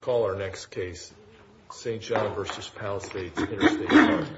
Call our next case, St-Jean v. Palisades Interstate Park. Call our next case, St-Jean v. Palisades Interstate Park.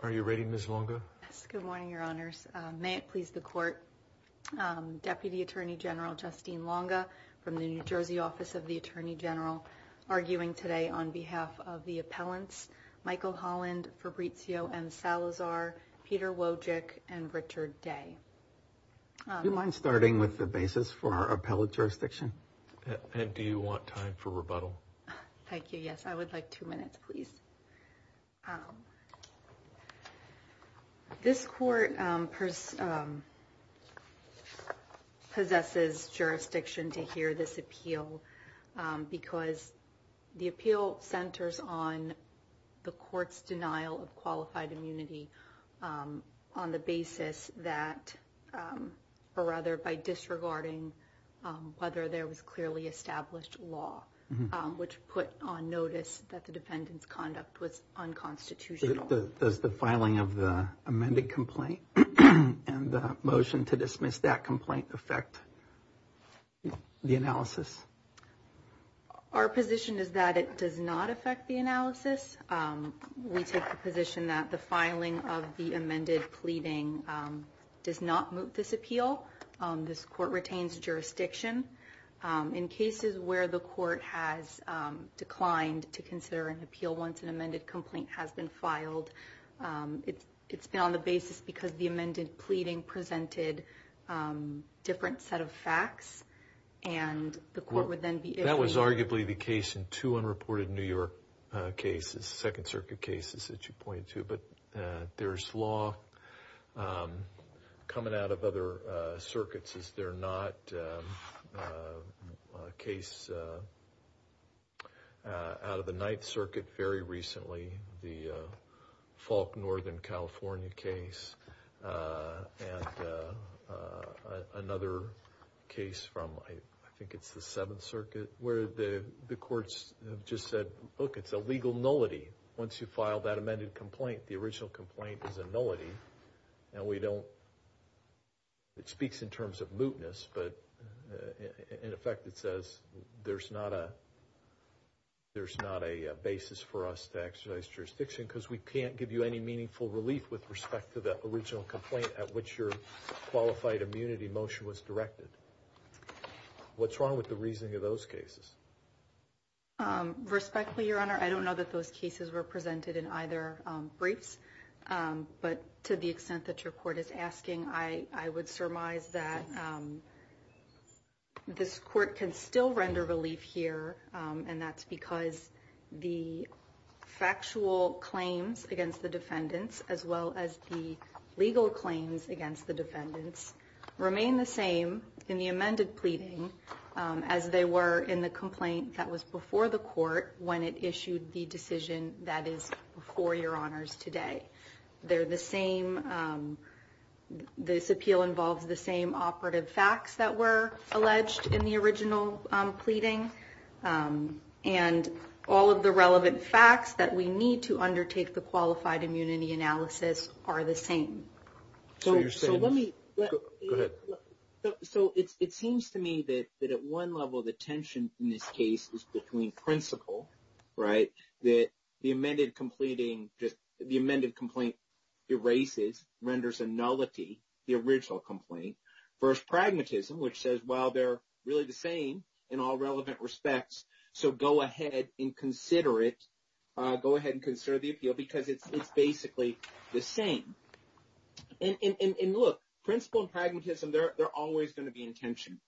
Are you ready, Ms. Longa? Yes, good morning, Your Honors. May it please the Court, Deputy Attorney General Justine Longa from the New Jersey Office of the Attorney General arguing today on behalf of the appellants Michael Holland, Fabrizio M. Salazar, Peter Wojcik, and Richard Day. Do you mind starting with the basis for our appellate jurisdiction? And do you want time for rebuttal? Thank you, yes. I would like two minutes, please. This court possesses jurisdiction to hear this appeal because the appeal centers on the court's denial of qualified immunity on the basis that, or rather by disregarding whether there was clearly established law, which put on notice that the defendant's conduct was unconstitutional. Does the filing of the amended complaint and the motion to dismiss that complaint affect the analysis? Our position is that it does not affect the analysis. We take the position that the filing of the amended pleading does not move this appeal. This court retains jurisdiction. In cases where the court has declined to consider an appeal once an amended complaint has been filed, it's been on the basis because the amended pleading presented different set of facts. That was arguably the case in two unreported New York cases, Second Circuit cases that you pointed to, but there's law coming out of other circuits. Is there not a case out of the Ninth Circuit very recently, the Falk, Northern California case, and another case from, I think it's the Seventh Circuit, where the courts have just said, look, it's a legal nullity. Once you file that amended complaint, the original complaint is a nullity, and we don't, it speaks in terms of mootness, but in effect it says there's not a basis for us to exercise jurisdiction because we can't give you any meaningful relief with respect to the original complaint at which your qualified immunity motion was directed. What's wrong with the reasoning of those cases? Respectfully, Your Honor, I don't know that those cases were presented in either briefs, but to the extent that your court is asking, I would surmise that this court can still render relief here, and that's because the factual claims against the defendants, as well as the legal claims against the defendants, remain the same in the amended pleading as they were in the complaint that was before the court when it issued the decision that is before Your Honors today. They're the same, this appeal involves the same operative facts that were alleged in the original pleading, and all of the relevant facts that we need to undertake the qualified immunity analysis are the same. So it seems to me that at one level the tension in this case is between principle, right, that the amended completing, the amended complaint erases, renders a nullity, the original complaint, versus pragmatism, which says, well, they're really the same in all relevant respects, so go ahead and consider it. But because it's basically the same. And look, principle and pragmatism, they're always going to be in tension.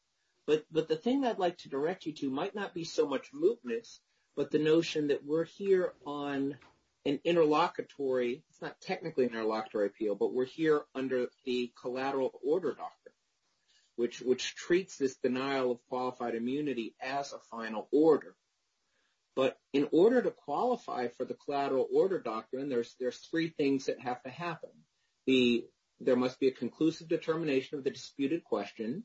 But the thing I'd like to direct you to might not be so much mootness, but the notion that we're here on an interlocutory, it's not technically an interlocutory appeal, but we're here under the collateral order doctrine, which treats this denial of qualified immunity as a final order. But in order to qualify for the collateral order doctrine, there's three things that have to happen. There must be a conclusive determination of the disputed question.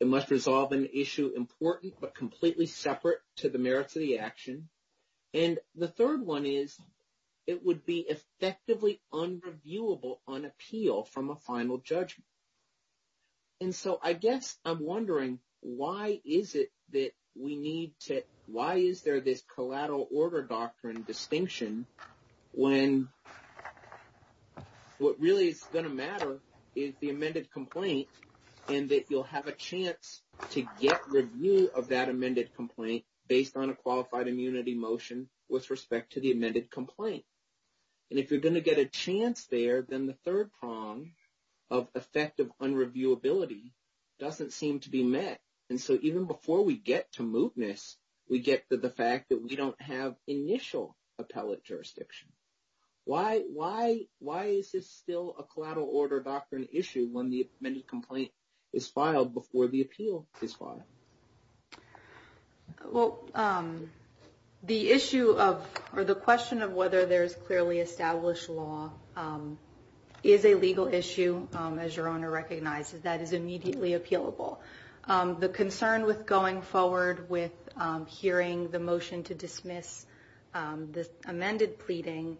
It must resolve an issue important but completely separate to the merits of the action. And the third one is it would be effectively unreviewable on appeal from a final judgment. And so I guess I'm wondering why is it that we need to why is there this collateral order doctrine distinction when what really is going to matter is the amended complaint and that you'll have a chance to get review of that amended complaint based on a qualified immunity motion with respect to the amended complaint. And if you're going to get a chance there, then the third prong of effective unreviewability doesn't seem to be met. And so even before we get to mootness, we get to the fact that we don't have initial appellate jurisdiction. Why is this still a collateral order doctrine issue when the amended complaint is filed before the appeal is filed? Well, the issue of or the question of whether there is clearly established law is a legal issue, as your owner recognizes that is immediately appealable. The concern with going forward with hearing the motion to dismiss this amended pleading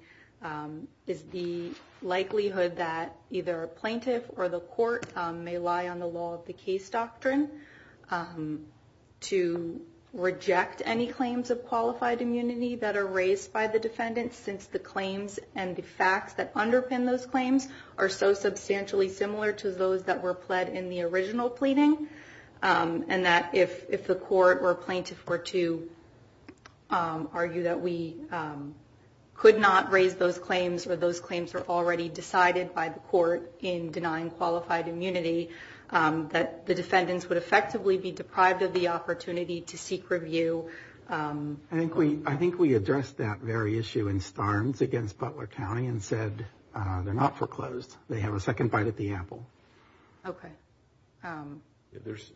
is the likelihood that either a plaintiff or the court may lie on the law of the case doctrine to reject any claims of qualified immunity that are raised by the defendants since the claims and the facts that underpin those claims are so substantially similar to those that were pled in the original pleading. And that if the court or plaintiff were to argue that we could not raise those claims or those claims are already decided by the court in denying qualified immunity, that the defendants would effectively be deprived of the opportunity to seek review. I think we addressed that very issue in Starnes against Butler County and said they're not foreclosed. They have a second bite at the apple. OK, there's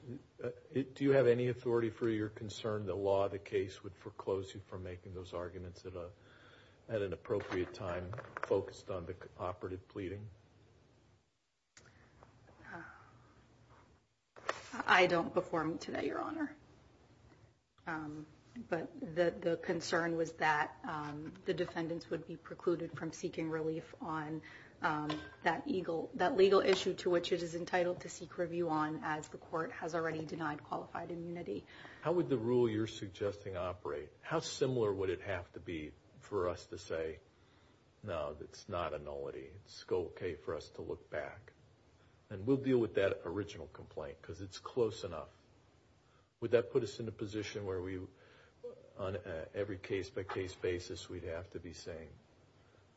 it. Do you have any authority for your concern? The law of the case would foreclose you from making those arguments at an appropriate time focused on the operative pleading. I don't perform today, your honor. But the concern was that the defendants would be precluded from seeking relief on that legal issue to which it is entitled to seek review on as the court has already denied qualified immunity. How would the rule you're suggesting operate? How similar would it have to be for us to say, no, it's not a nullity. It's OK for us to look back and we'll deal with that original complaint because it's close enough. Would that put us in a position where we on every case by case basis, we'd have to be saying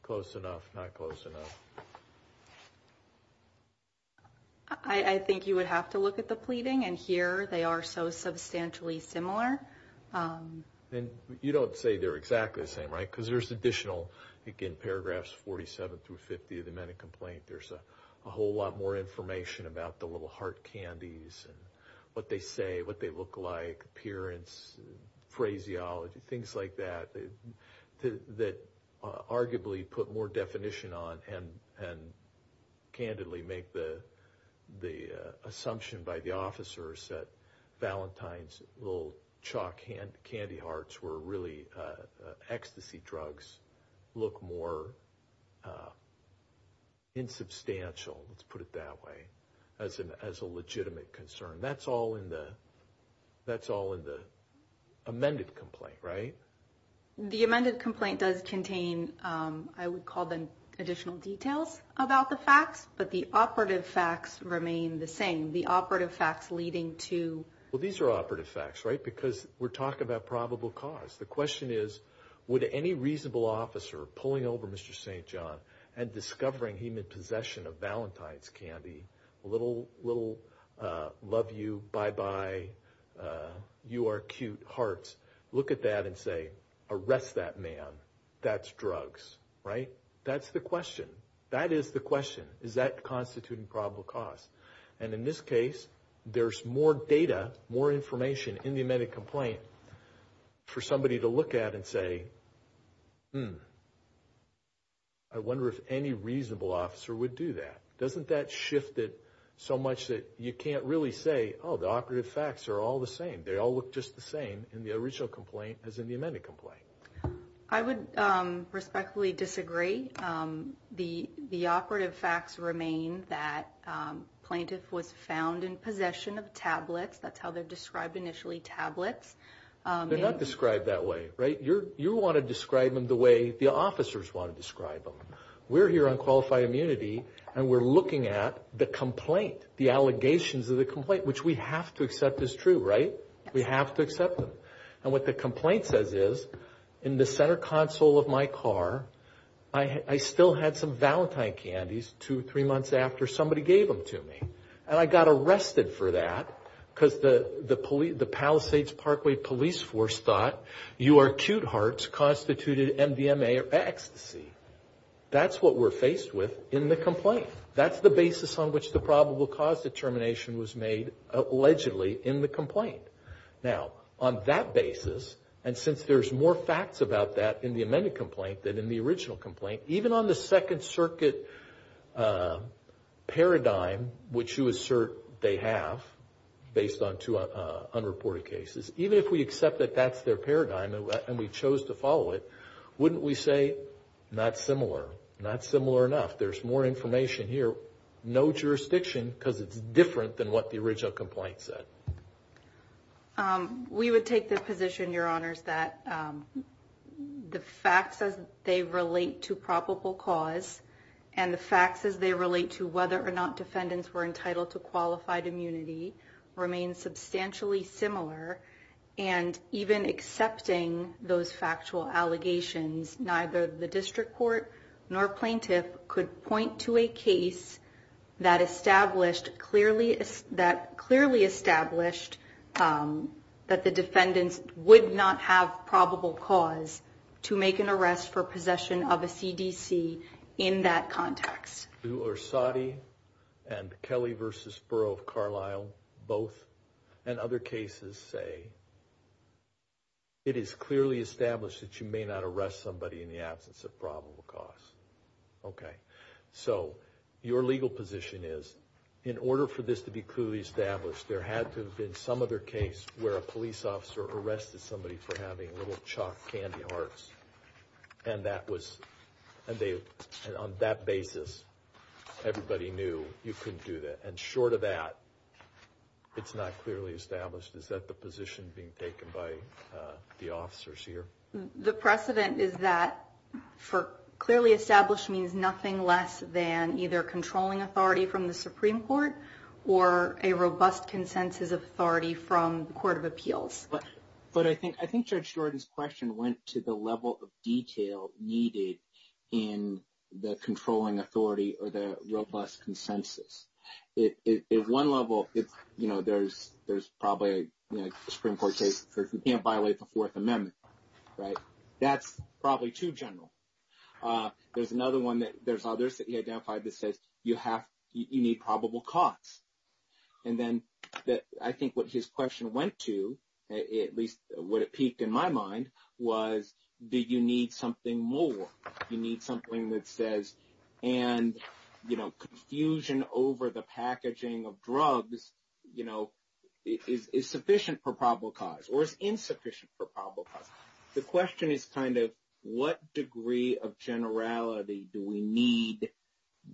close enough, not close enough? I think you would have to look at the pleading and here they are so substantially similar. And you don't say they're exactly the same, right? Because there's additional again, paragraphs 47 through 50 of the Mennon complaint. There's a whole lot more information about the little heart candies and what they say, what they look like, appearance, phraseology, things like that. That arguably put more definition on and candidly make the assumption by the officers that Valentine's little chalk candy hearts were really ecstasy drugs look more insubstantial. Let's put it that way as a legitimate concern. That's all in the amended complaint, right? The amended complaint does contain, I would call them additional details about the facts, but the operative facts remain the same. The operative facts leading to. Well, these are operative facts, right? Because we're talking about probable cause. The question is, would any reasonable officer pulling over Mr. St. John and discovering him in possession of Valentine's candy, a little love you, bye bye, you are cute hearts, look at that and say, arrest that man. That's drugs, right? That's the question. That is the question. Is that constituting probable cause? And in this case, there's more data, more information in the amended complaint for somebody to look at and say, I wonder if any reasonable officer would do that. Doesn't that shift it so much that you can't really say, oh, the operative facts are all the same. They all look just the same in the original complaint as in the amended complaint. I would respectfully disagree. The operative facts remain that plaintiff was found in possession of tablets. That's how they're described initially, tablets. They're not described that way, right? You want to describe them the way the officers want to describe them. We're here on Qualified Immunity, and we're looking at the complaint, the allegations of the complaint, which we have to accept is true, right? We have to accept them. And what the complaint says is, in the center console of my car, I still had some Valentine candies two or three months after somebody gave them to me. And I got arrested for that because the Palisades Parkway Police Force thought your cute hearts constituted MDMA ecstasy. That's what we're faced with in the complaint. That's the basis on which the probable cause determination was made, allegedly, in the complaint. Now, on that basis, and since there's more facts about that in the amended complaint than in the original complaint, even on the Second Circuit paradigm, which you assert they have based on two unreported cases, even if we accept that that's their paradigm and we chose to follow it, wouldn't we say, not similar, not similar enough? There's more information here, no jurisdiction, because it's different than what the original complaint said. We would take the position, Your Honors, that the facts as they relate to probable cause and the facts as they relate to whether or not defendants were entitled to qualified immunity remain substantially similar. And even accepting those factual allegations, neither the district court nor plaintiff could point to a case that clearly established that the defendants would not have probable cause to make an arrest for possession of a CDC in that context. Do Orsatti and Kelly v. Borough of Carlisle both and other cases say, it is clearly established that you may not arrest somebody in the absence of probable cause? Okay, so your legal position is, in order for this to be clearly established, there had to have been some other case where a police officer arrested somebody for having little chalk candy hearts. And on that basis, everybody knew you couldn't do that. And short of that, it's not clearly established. Is that the position being taken by the officers here? The precedent is that clearly established means nothing less than either controlling authority from the Supreme Court or a robust consensus of authority from the Court of Appeals. But I think Judge Jordan's question went to the level of detail needed in the controlling authority or the robust consensus. At one level, you know, there's probably a Supreme Court case where you can't violate the Fourth Amendment, right? That's probably too general. There's another one that there's others that he identified that says you need probable cause. And then I think what his question went to, at least what it piqued in my mind, was, do you need something more? You need something that says, and, you know, confusion over the packaging of drugs, you know, is sufficient for probable cause or is insufficient for probable cause. The question is kind of what degree of generality do we need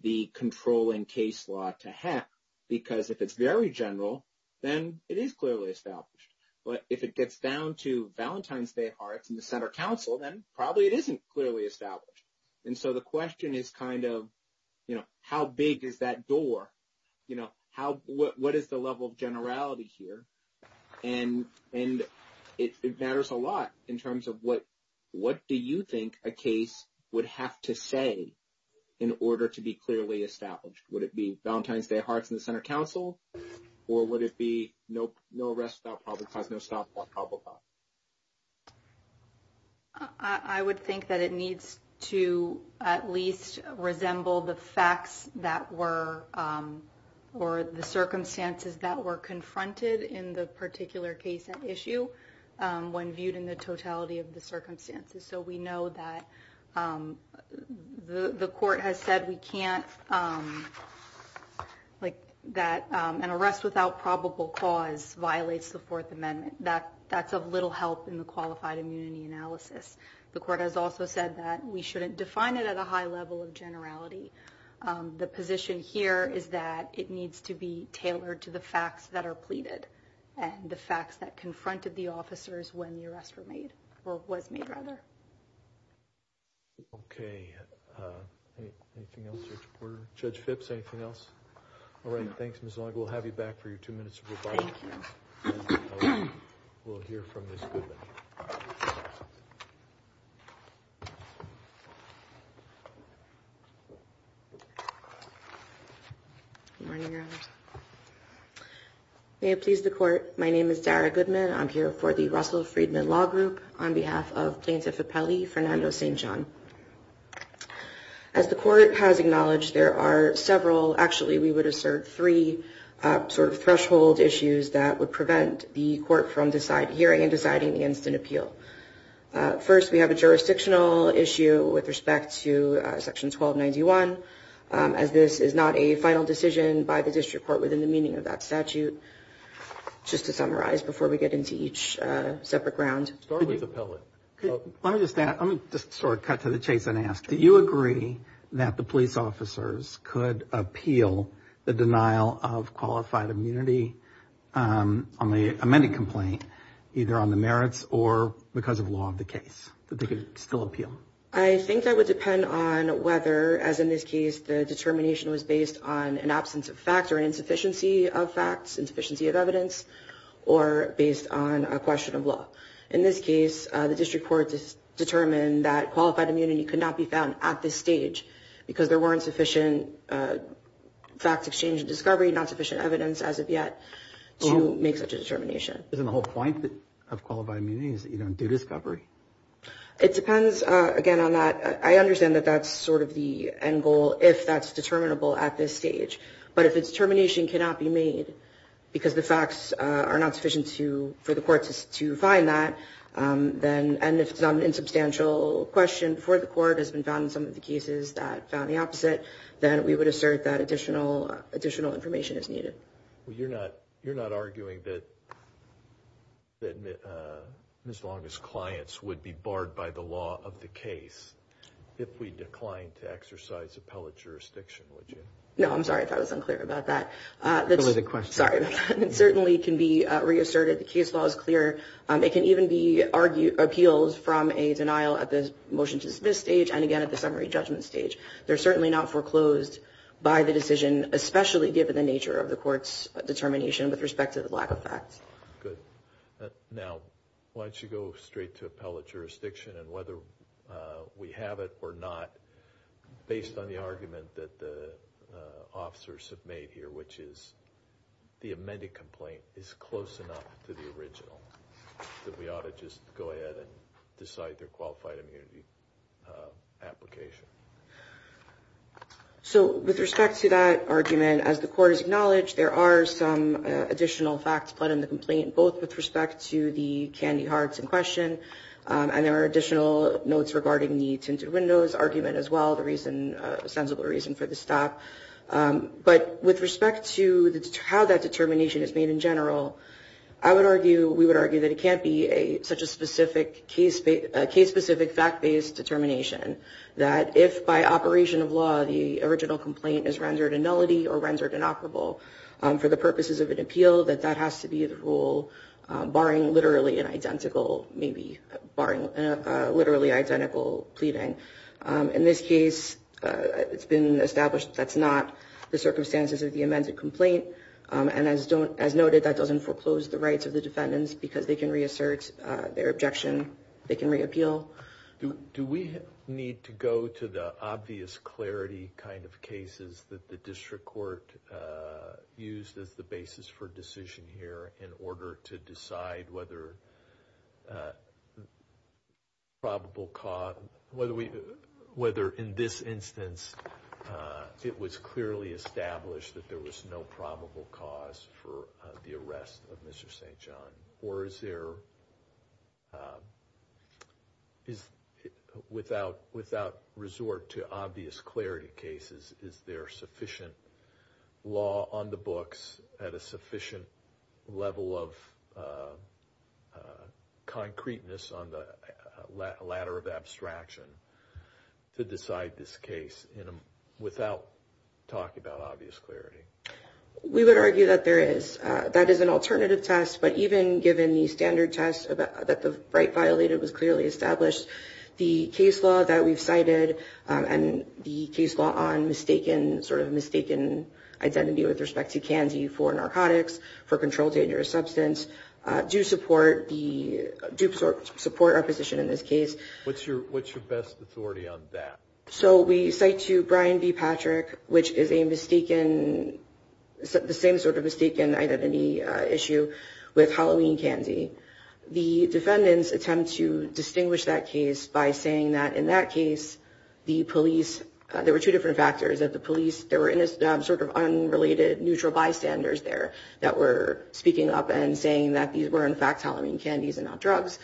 the controlling case law to have? Because if it's very general, then it is clearly established. But if it gets down to Valentine's Day hearts and the center council, then probably it isn't clearly established. And so the question is kind of, you know, how big is that door? You know, what is the level of generality here? And it matters a lot in terms of what do you think a case would have to say in order to be clearly established? Would it be Valentine's Day hearts and the center council, or would it be no arrest without probable cause, no stop without probable cause? I would think that it needs to at least resemble the facts that were or the circumstances that were confronted in the particular case and issue when viewed in the totality of the circumstances. So we know that the court has said we can't like that an arrest without probable cause violates the Fourth Amendment. That that's of little help in the qualified immunity analysis. The court has also said that we shouldn't define it at a high level of generality. The position here is that it needs to be tailored to the facts that are pleaded and the facts that confronted the officers when the arrestor made or was made rather. OK. Judge Phipps, anything else? All right. Thanks, Ms. Long. We'll have you back for your two minutes. We'll hear from this. May it please the court. My name is Dara Goodman. I'm here for the Russell Friedman Law Group on behalf of plaintiff Appellee Fernando St. John. As the court has acknowledged, there are several. Actually, we would assert three sort of threshold issues that would prevent the court from hearing and deciding the instant appeal. First, we have a jurisdictional issue with respect to Section 1291, as this is not a final decision by the district court within the meaning of that statute. Just to summarize, before we get into each separate ground, start with the pellet. Let me just sort of cut to the chase and ask. Do you agree that the police officers could appeal the denial of qualified immunity on the amended complaint, either on the merits or because of law of the case, that they could still appeal? I think that would depend on whether, as in this case, the determination was based on an absence of fact or an insufficiency of facts, insufficiency of evidence or based on a question of law. In this case, the district court determined that qualified immunity could not be found at this stage because there weren't sufficient facts exchange discovery, not sufficient evidence as of yet to make such a determination. Isn't the whole point of qualified immunity is that you don't do discovery? It depends, again, on that. I understand that that's sort of the end goal if that's determinable at this stage. But if its termination cannot be made because the facts are not sufficient to for the courts to find that, then and if it's an insubstantial question for the court has been found in some of the cases that found the opposite, then we would assert that additional additional information is needed. Well, you're not you're not arguing that as long as clients would be barred by the law of the case, if we declined to exercise appellate jurisdiction, would you? No, I'm sorry if I was unclear about that. That was a question. Sorry. It certainly can be reasserted. The case law is clear. Now, why don't you go straight to appellate jurisdiction and whether we have it or not, based on the argument that the officers have made here, which is the amended complaint is close enough to the original. We ought to just go ahead and decide their qualified immunity application. So with respect to that argument, as the court has acknowledged, there are some additional facts put in the complaint, both with respect to the candy hearts in question and there are additional notes regarding the tinted windows argument as well. The reason a sensible reason for the stop. But with respect to how that determination is made in general, I would argue we would argue that it can't be a such a specific case, a case specific fact based determination that if by operation of law, the original complaint is rendered a nullity or rendered inoperable for the purposes of an appeal, that that has to be the rule, barring literally an identical, maybe barring literally identical pleading. And in this case, it's been established. That's not the circumstances of the amended complaint. And as don't, as noted, that doesn't foreclose the rights of the defendants because they can reassert their objection. They can reappeal. Do we need to go to the obvious clarity kind of cases that the district court used as the basis for decision here in order to decide whether. Probable cause, whether we whether in this instance it was clearly established that there was no probable cause for the arrest of Mr. St. John or is there. Is without without resort to obvious clarity cases, is there sufficient law on the books at a sufficient level of concreteness on the ladder of abstraction to decide this case without talk about obvious clarity? We would argue that there is. That is an alternative test. But even given the standard test that the right violated was clearly established, the case law that we've cited and the case law on mistaken sort of mistaken identity with respect to Kansi for narcotics for controlled dangerous substance do support the do support our position in this case. What's your what's your best authority on that? So we say to Brian B. Patrick, which is a mistaken, the same sort of mistaken identity issue with Halloween candy. The defendants attempt to distinguish that case by saying that in that case, the police, there were two different factors that the police there were in this sort of unrelated neutral bystanders there that were speaking up and saying that these were in fact Halloween candies and not drugs.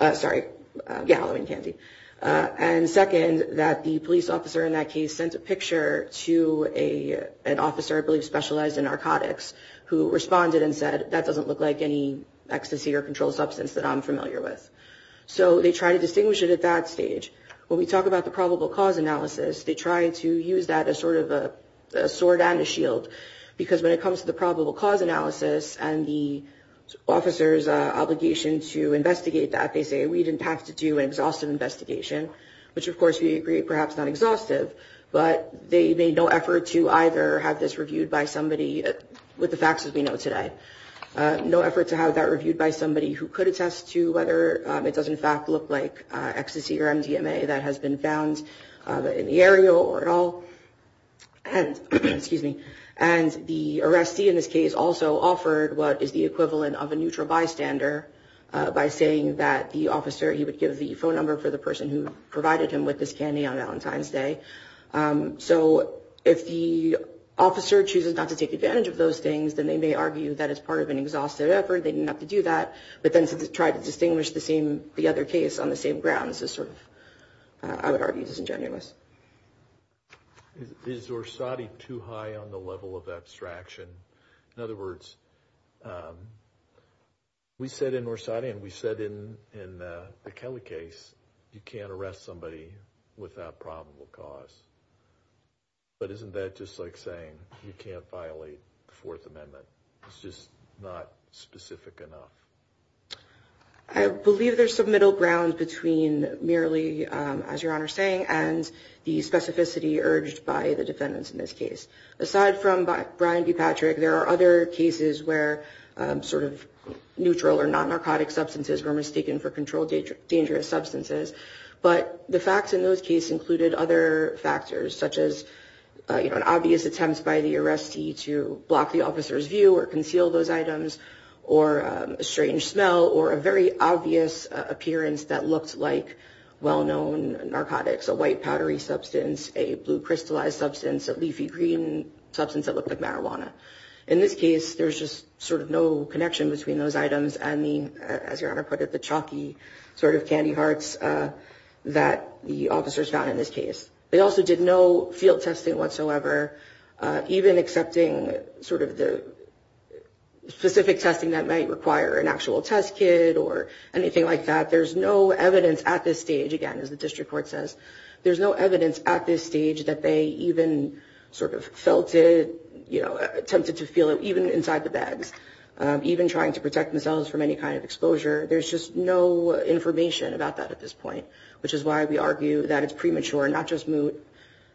Sorry. Yeah, Halloween candy. And second, that the police officer in that case sent a picture to a an officer, I believe, specialized in narcotics who responded and said, that doesn't look like any ecstasy or controlled substance that I'm familiar with. So they try to distinguish it at that stage. When we talk about the probable cause analysis, they try to use that as sort of a sword and a shield, because when it comes to the probable cause analysis and the officers obligation to investigate that, they say we didn't have to do an exhaustive investigation, which, of course, we agree, perhaps not exhaustive, but they made no effort to either have this reviewed by somebody with the facts that we know today. No effort to have that reviewed by somebody who could attest to whether it does in fact look like ecstasy or MDMA that has been found in the area or at all. And, excuse me, and the arrestee in this case also offered what is the equivalent of a neutral bystander by saying that the officer, he would give the phone number for the person who provided him with this candy on Valentine's Day. So if the officer chooses not to take advantage of those things, then they may argue that it's part of an exhaustive effort, they didn't have to do that, but then to try to distinguish the other case on the same grounds is sort of, I would argue, disingenuous. Is Orsatti too high on the level of abstraction? In other words, we said in Orsatti and we said in the Kelly case, you can't arrest somebody without probable cause. But isn't that just like saying you can't violate the Fourth Amendment? It's just not specific enough. I believe there's some middle ground between merely, as Your Honor is saying, and the specificity urged by the defendants in this case. Aside from Brian D. Patrick, there are other cases where sort of neutral or non-narcotic substances were mistaken for controlled dangerous substances. But the facts in those cases included other factors, such as an obvious attempt by the arrestee to block the officer's view or conceal those items, or a strange smell, or a very obvious appearance that looked like well-known narcotics. A white powdery substance, a blue crystallized substance, a leafy green substance that looked like marijuana. In this case, there's just sort of no connection between those items and the, as Your Honor put it, the chalky sort of candy hearts that the officers found in this case. They also did no field testing whatsoever, even accepting sort of the specific testing that might require an actual test kit or anything like that. There's no evidence at this stage, again, as the district court says, there's no evidence at this stage that they even sort of felt it, you know, attempted to feel it, even inside the bags. Even trying to protect themselves from any kind of exposure, there's just no information about that at this point. Which is why we argue that it's premature, not just moot,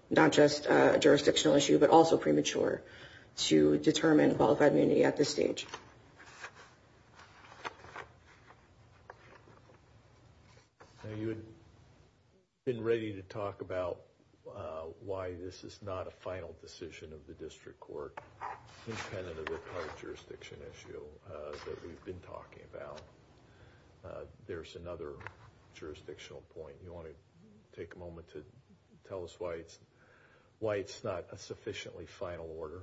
not just a jurisdictional issue, but also premature to determine qualified immunity at this stage. You've been ready to talk about why this is not a final decision of the district court, independent of the current jurisdiction issue that we've been talking about. There's another jurisdictional point. You want to take a moment to tell us why it's not a sufficiently final order?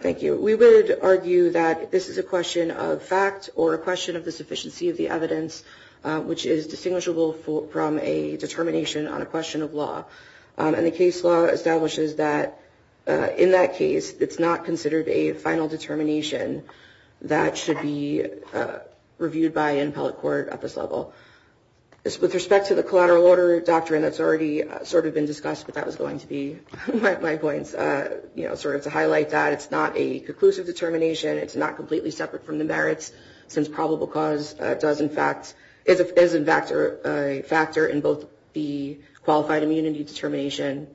Thank you. We would argue that this is a question of fact or a question of the sufficiency of the evidence, which is distinguishable from a determination on a question of law. And the case law establishes that in that case, it's not considered a final determination that should be reviewed by an appellate court at this level. With respect to the collateral order doctrine that's already sort of been discussed, but that was going to be my points, you know, sort of to highlight that it's not a conclusive determination. It's not completely separate from the merits, since probable cause does, in fact, is a factor in both the qualified immunity determination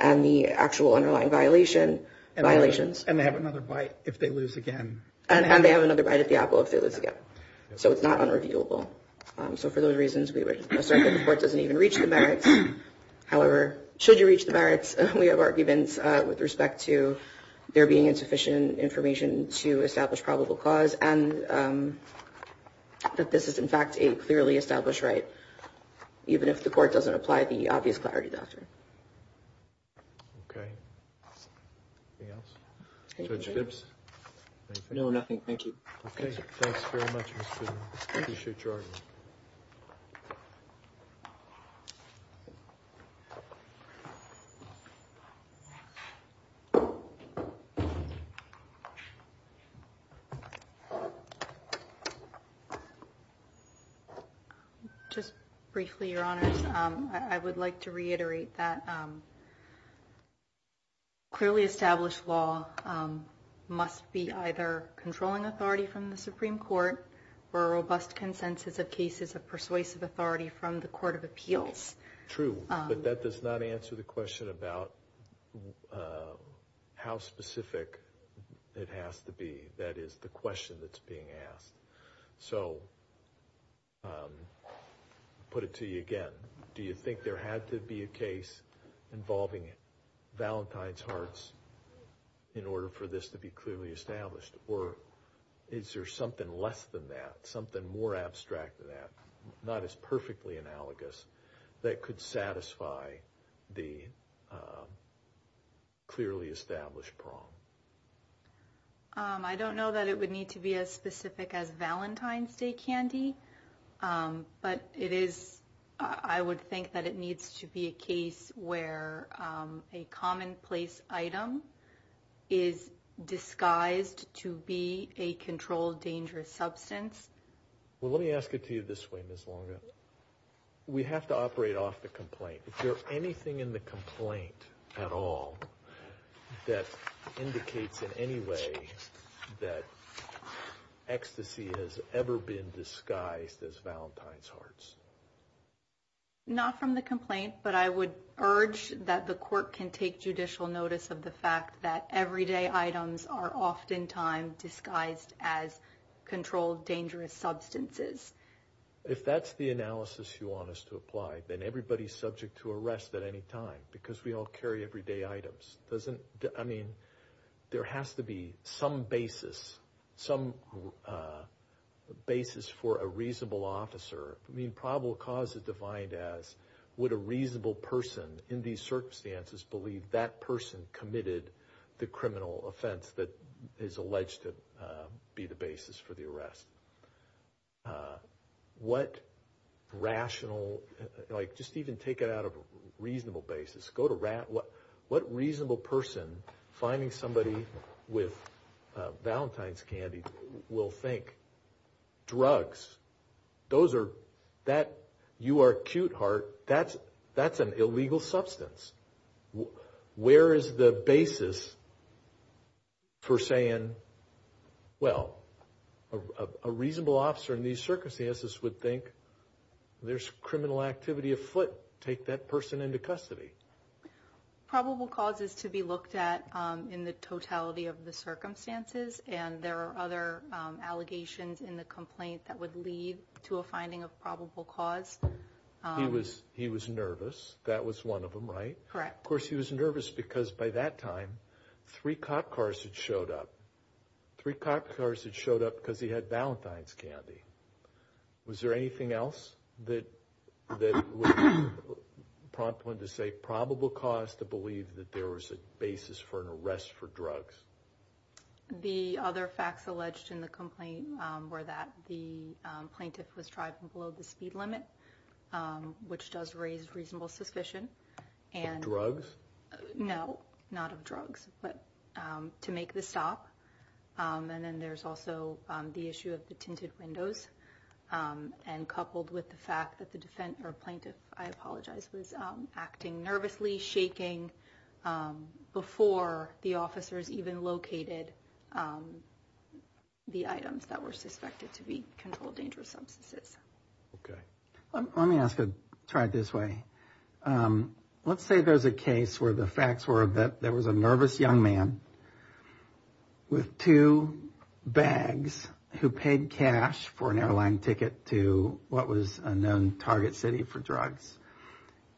and the actual underlying violations. And they have another bite if they lose again. And they have another bite at the apple if they lose again. So it's not unreviewable. So for those reasons, we would assert that the court doesn't even reach the merits. However, should you reach the merits, we have arguments with respect to there being insufficient information to establish probable cause and that this is, in fact, a clearly established right. Even if the court doesn't apply the obvious clarity doctrine. OK. Judge Gibbs. No, nothing. Thank you. Thanks very much. Sure. Just briefly, your honor, I would like to reiterate that. Clearly established law must be either controlling authority from the Supreme Court or a robust consensus of cases of persuasive authority from the court of appeals. True. But that does not answer the question about how specific it has to be. That is the question that's being asked. So. Put it to you again. Do you think there had to be a case involving Valentine's hearts in order for this to be clearly established? Or is there something less than that, something more abstract than that, not as perfectly analogous that could satisfy the clearly established problem? I don't know that it would need to be as specific as Valentine's Day candy, but it is. I would think that it needs to be a case where a commonplace item is disguised to be a controlled, dangerous substance. Well, let me ask it to you this way, Miss Longa. We have to operate off the complaint. Is there anything in the complaint at all that indicates in any way that ecstasy has ever been disguised as Valentine's hearts? Not from the complaint, but I would urge that the court can take judicial notice of the fact that everyday items are oftentimes disguised as controlled, dangerous substances. If that's the analysis you want us to apply, then everybody's subject to arrest at any time because we all carry everyday items. I mean, there has to be some basis, some basis for a reasonable officer. I mean, probable cause is defined as would a reasonable person in these circumstances believe that person committed the criminal offense that is alleged to be the basis for the arrest? What rational, like just even take it out of a reasonable basis. Go to rat, what reasonable person finding somebody with Valentine's candy will think drugs, those are, that, you are cute heart, that's an illegal substance. Where is the basis for saying, well, a reasonable officer in these circumstances would think there's criminal activity afoot. Take that person into custody. Probable cause is to be looked at in the totality of the circumstances, and there are other allegations in the complaint that would lead to a finding of probable cause. He was nervous. That was one of them, right? Correct. Of course, he was nervous because by that time, three cop cars had showed up. Three cop cars had showed up because he had Valentine's candy. Was there anything else that would prompt one to say probable cause to believe that there was a basis for an arrest for drugs? The other facts alleged in the complaint were that the plaintiff was driving below the speed limit, which does raise reasonable suspicion and drugs. No, not of drugs, but to make the stop. And then there's also the issue of the tinted windows and coupled with the fact that the defendant or plaintiff, I apologize, was acting nervously, shaking before the officers even located the items that were suspected to be controlled, dangerous substances. OK, let me ask. Let's say there's a case where the facts were that there was a nervous young man with two bags who paid cash for an airline ticket to what was a known target city for drugs.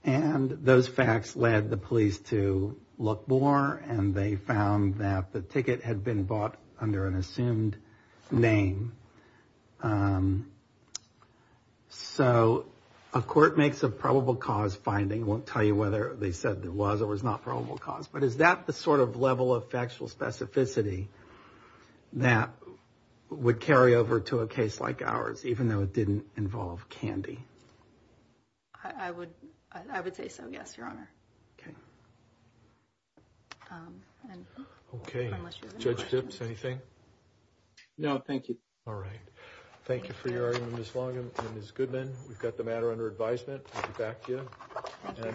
And those facts led the police to look more, and they found that the ticket had been bought under an assumed name. So a court makes a probable cause finding won't tell you whether they said there was or was not probable cause. But is that the sort of level of factual specificity that would carry over to a case like ours, even though it didn't involve candy? I would I would say so, yes, your honor. OK. And OK. Unless you judge tips anything. No, thank you. All right. Thank you for your argument as long as good men. We've got the matter under advisement. Back to you.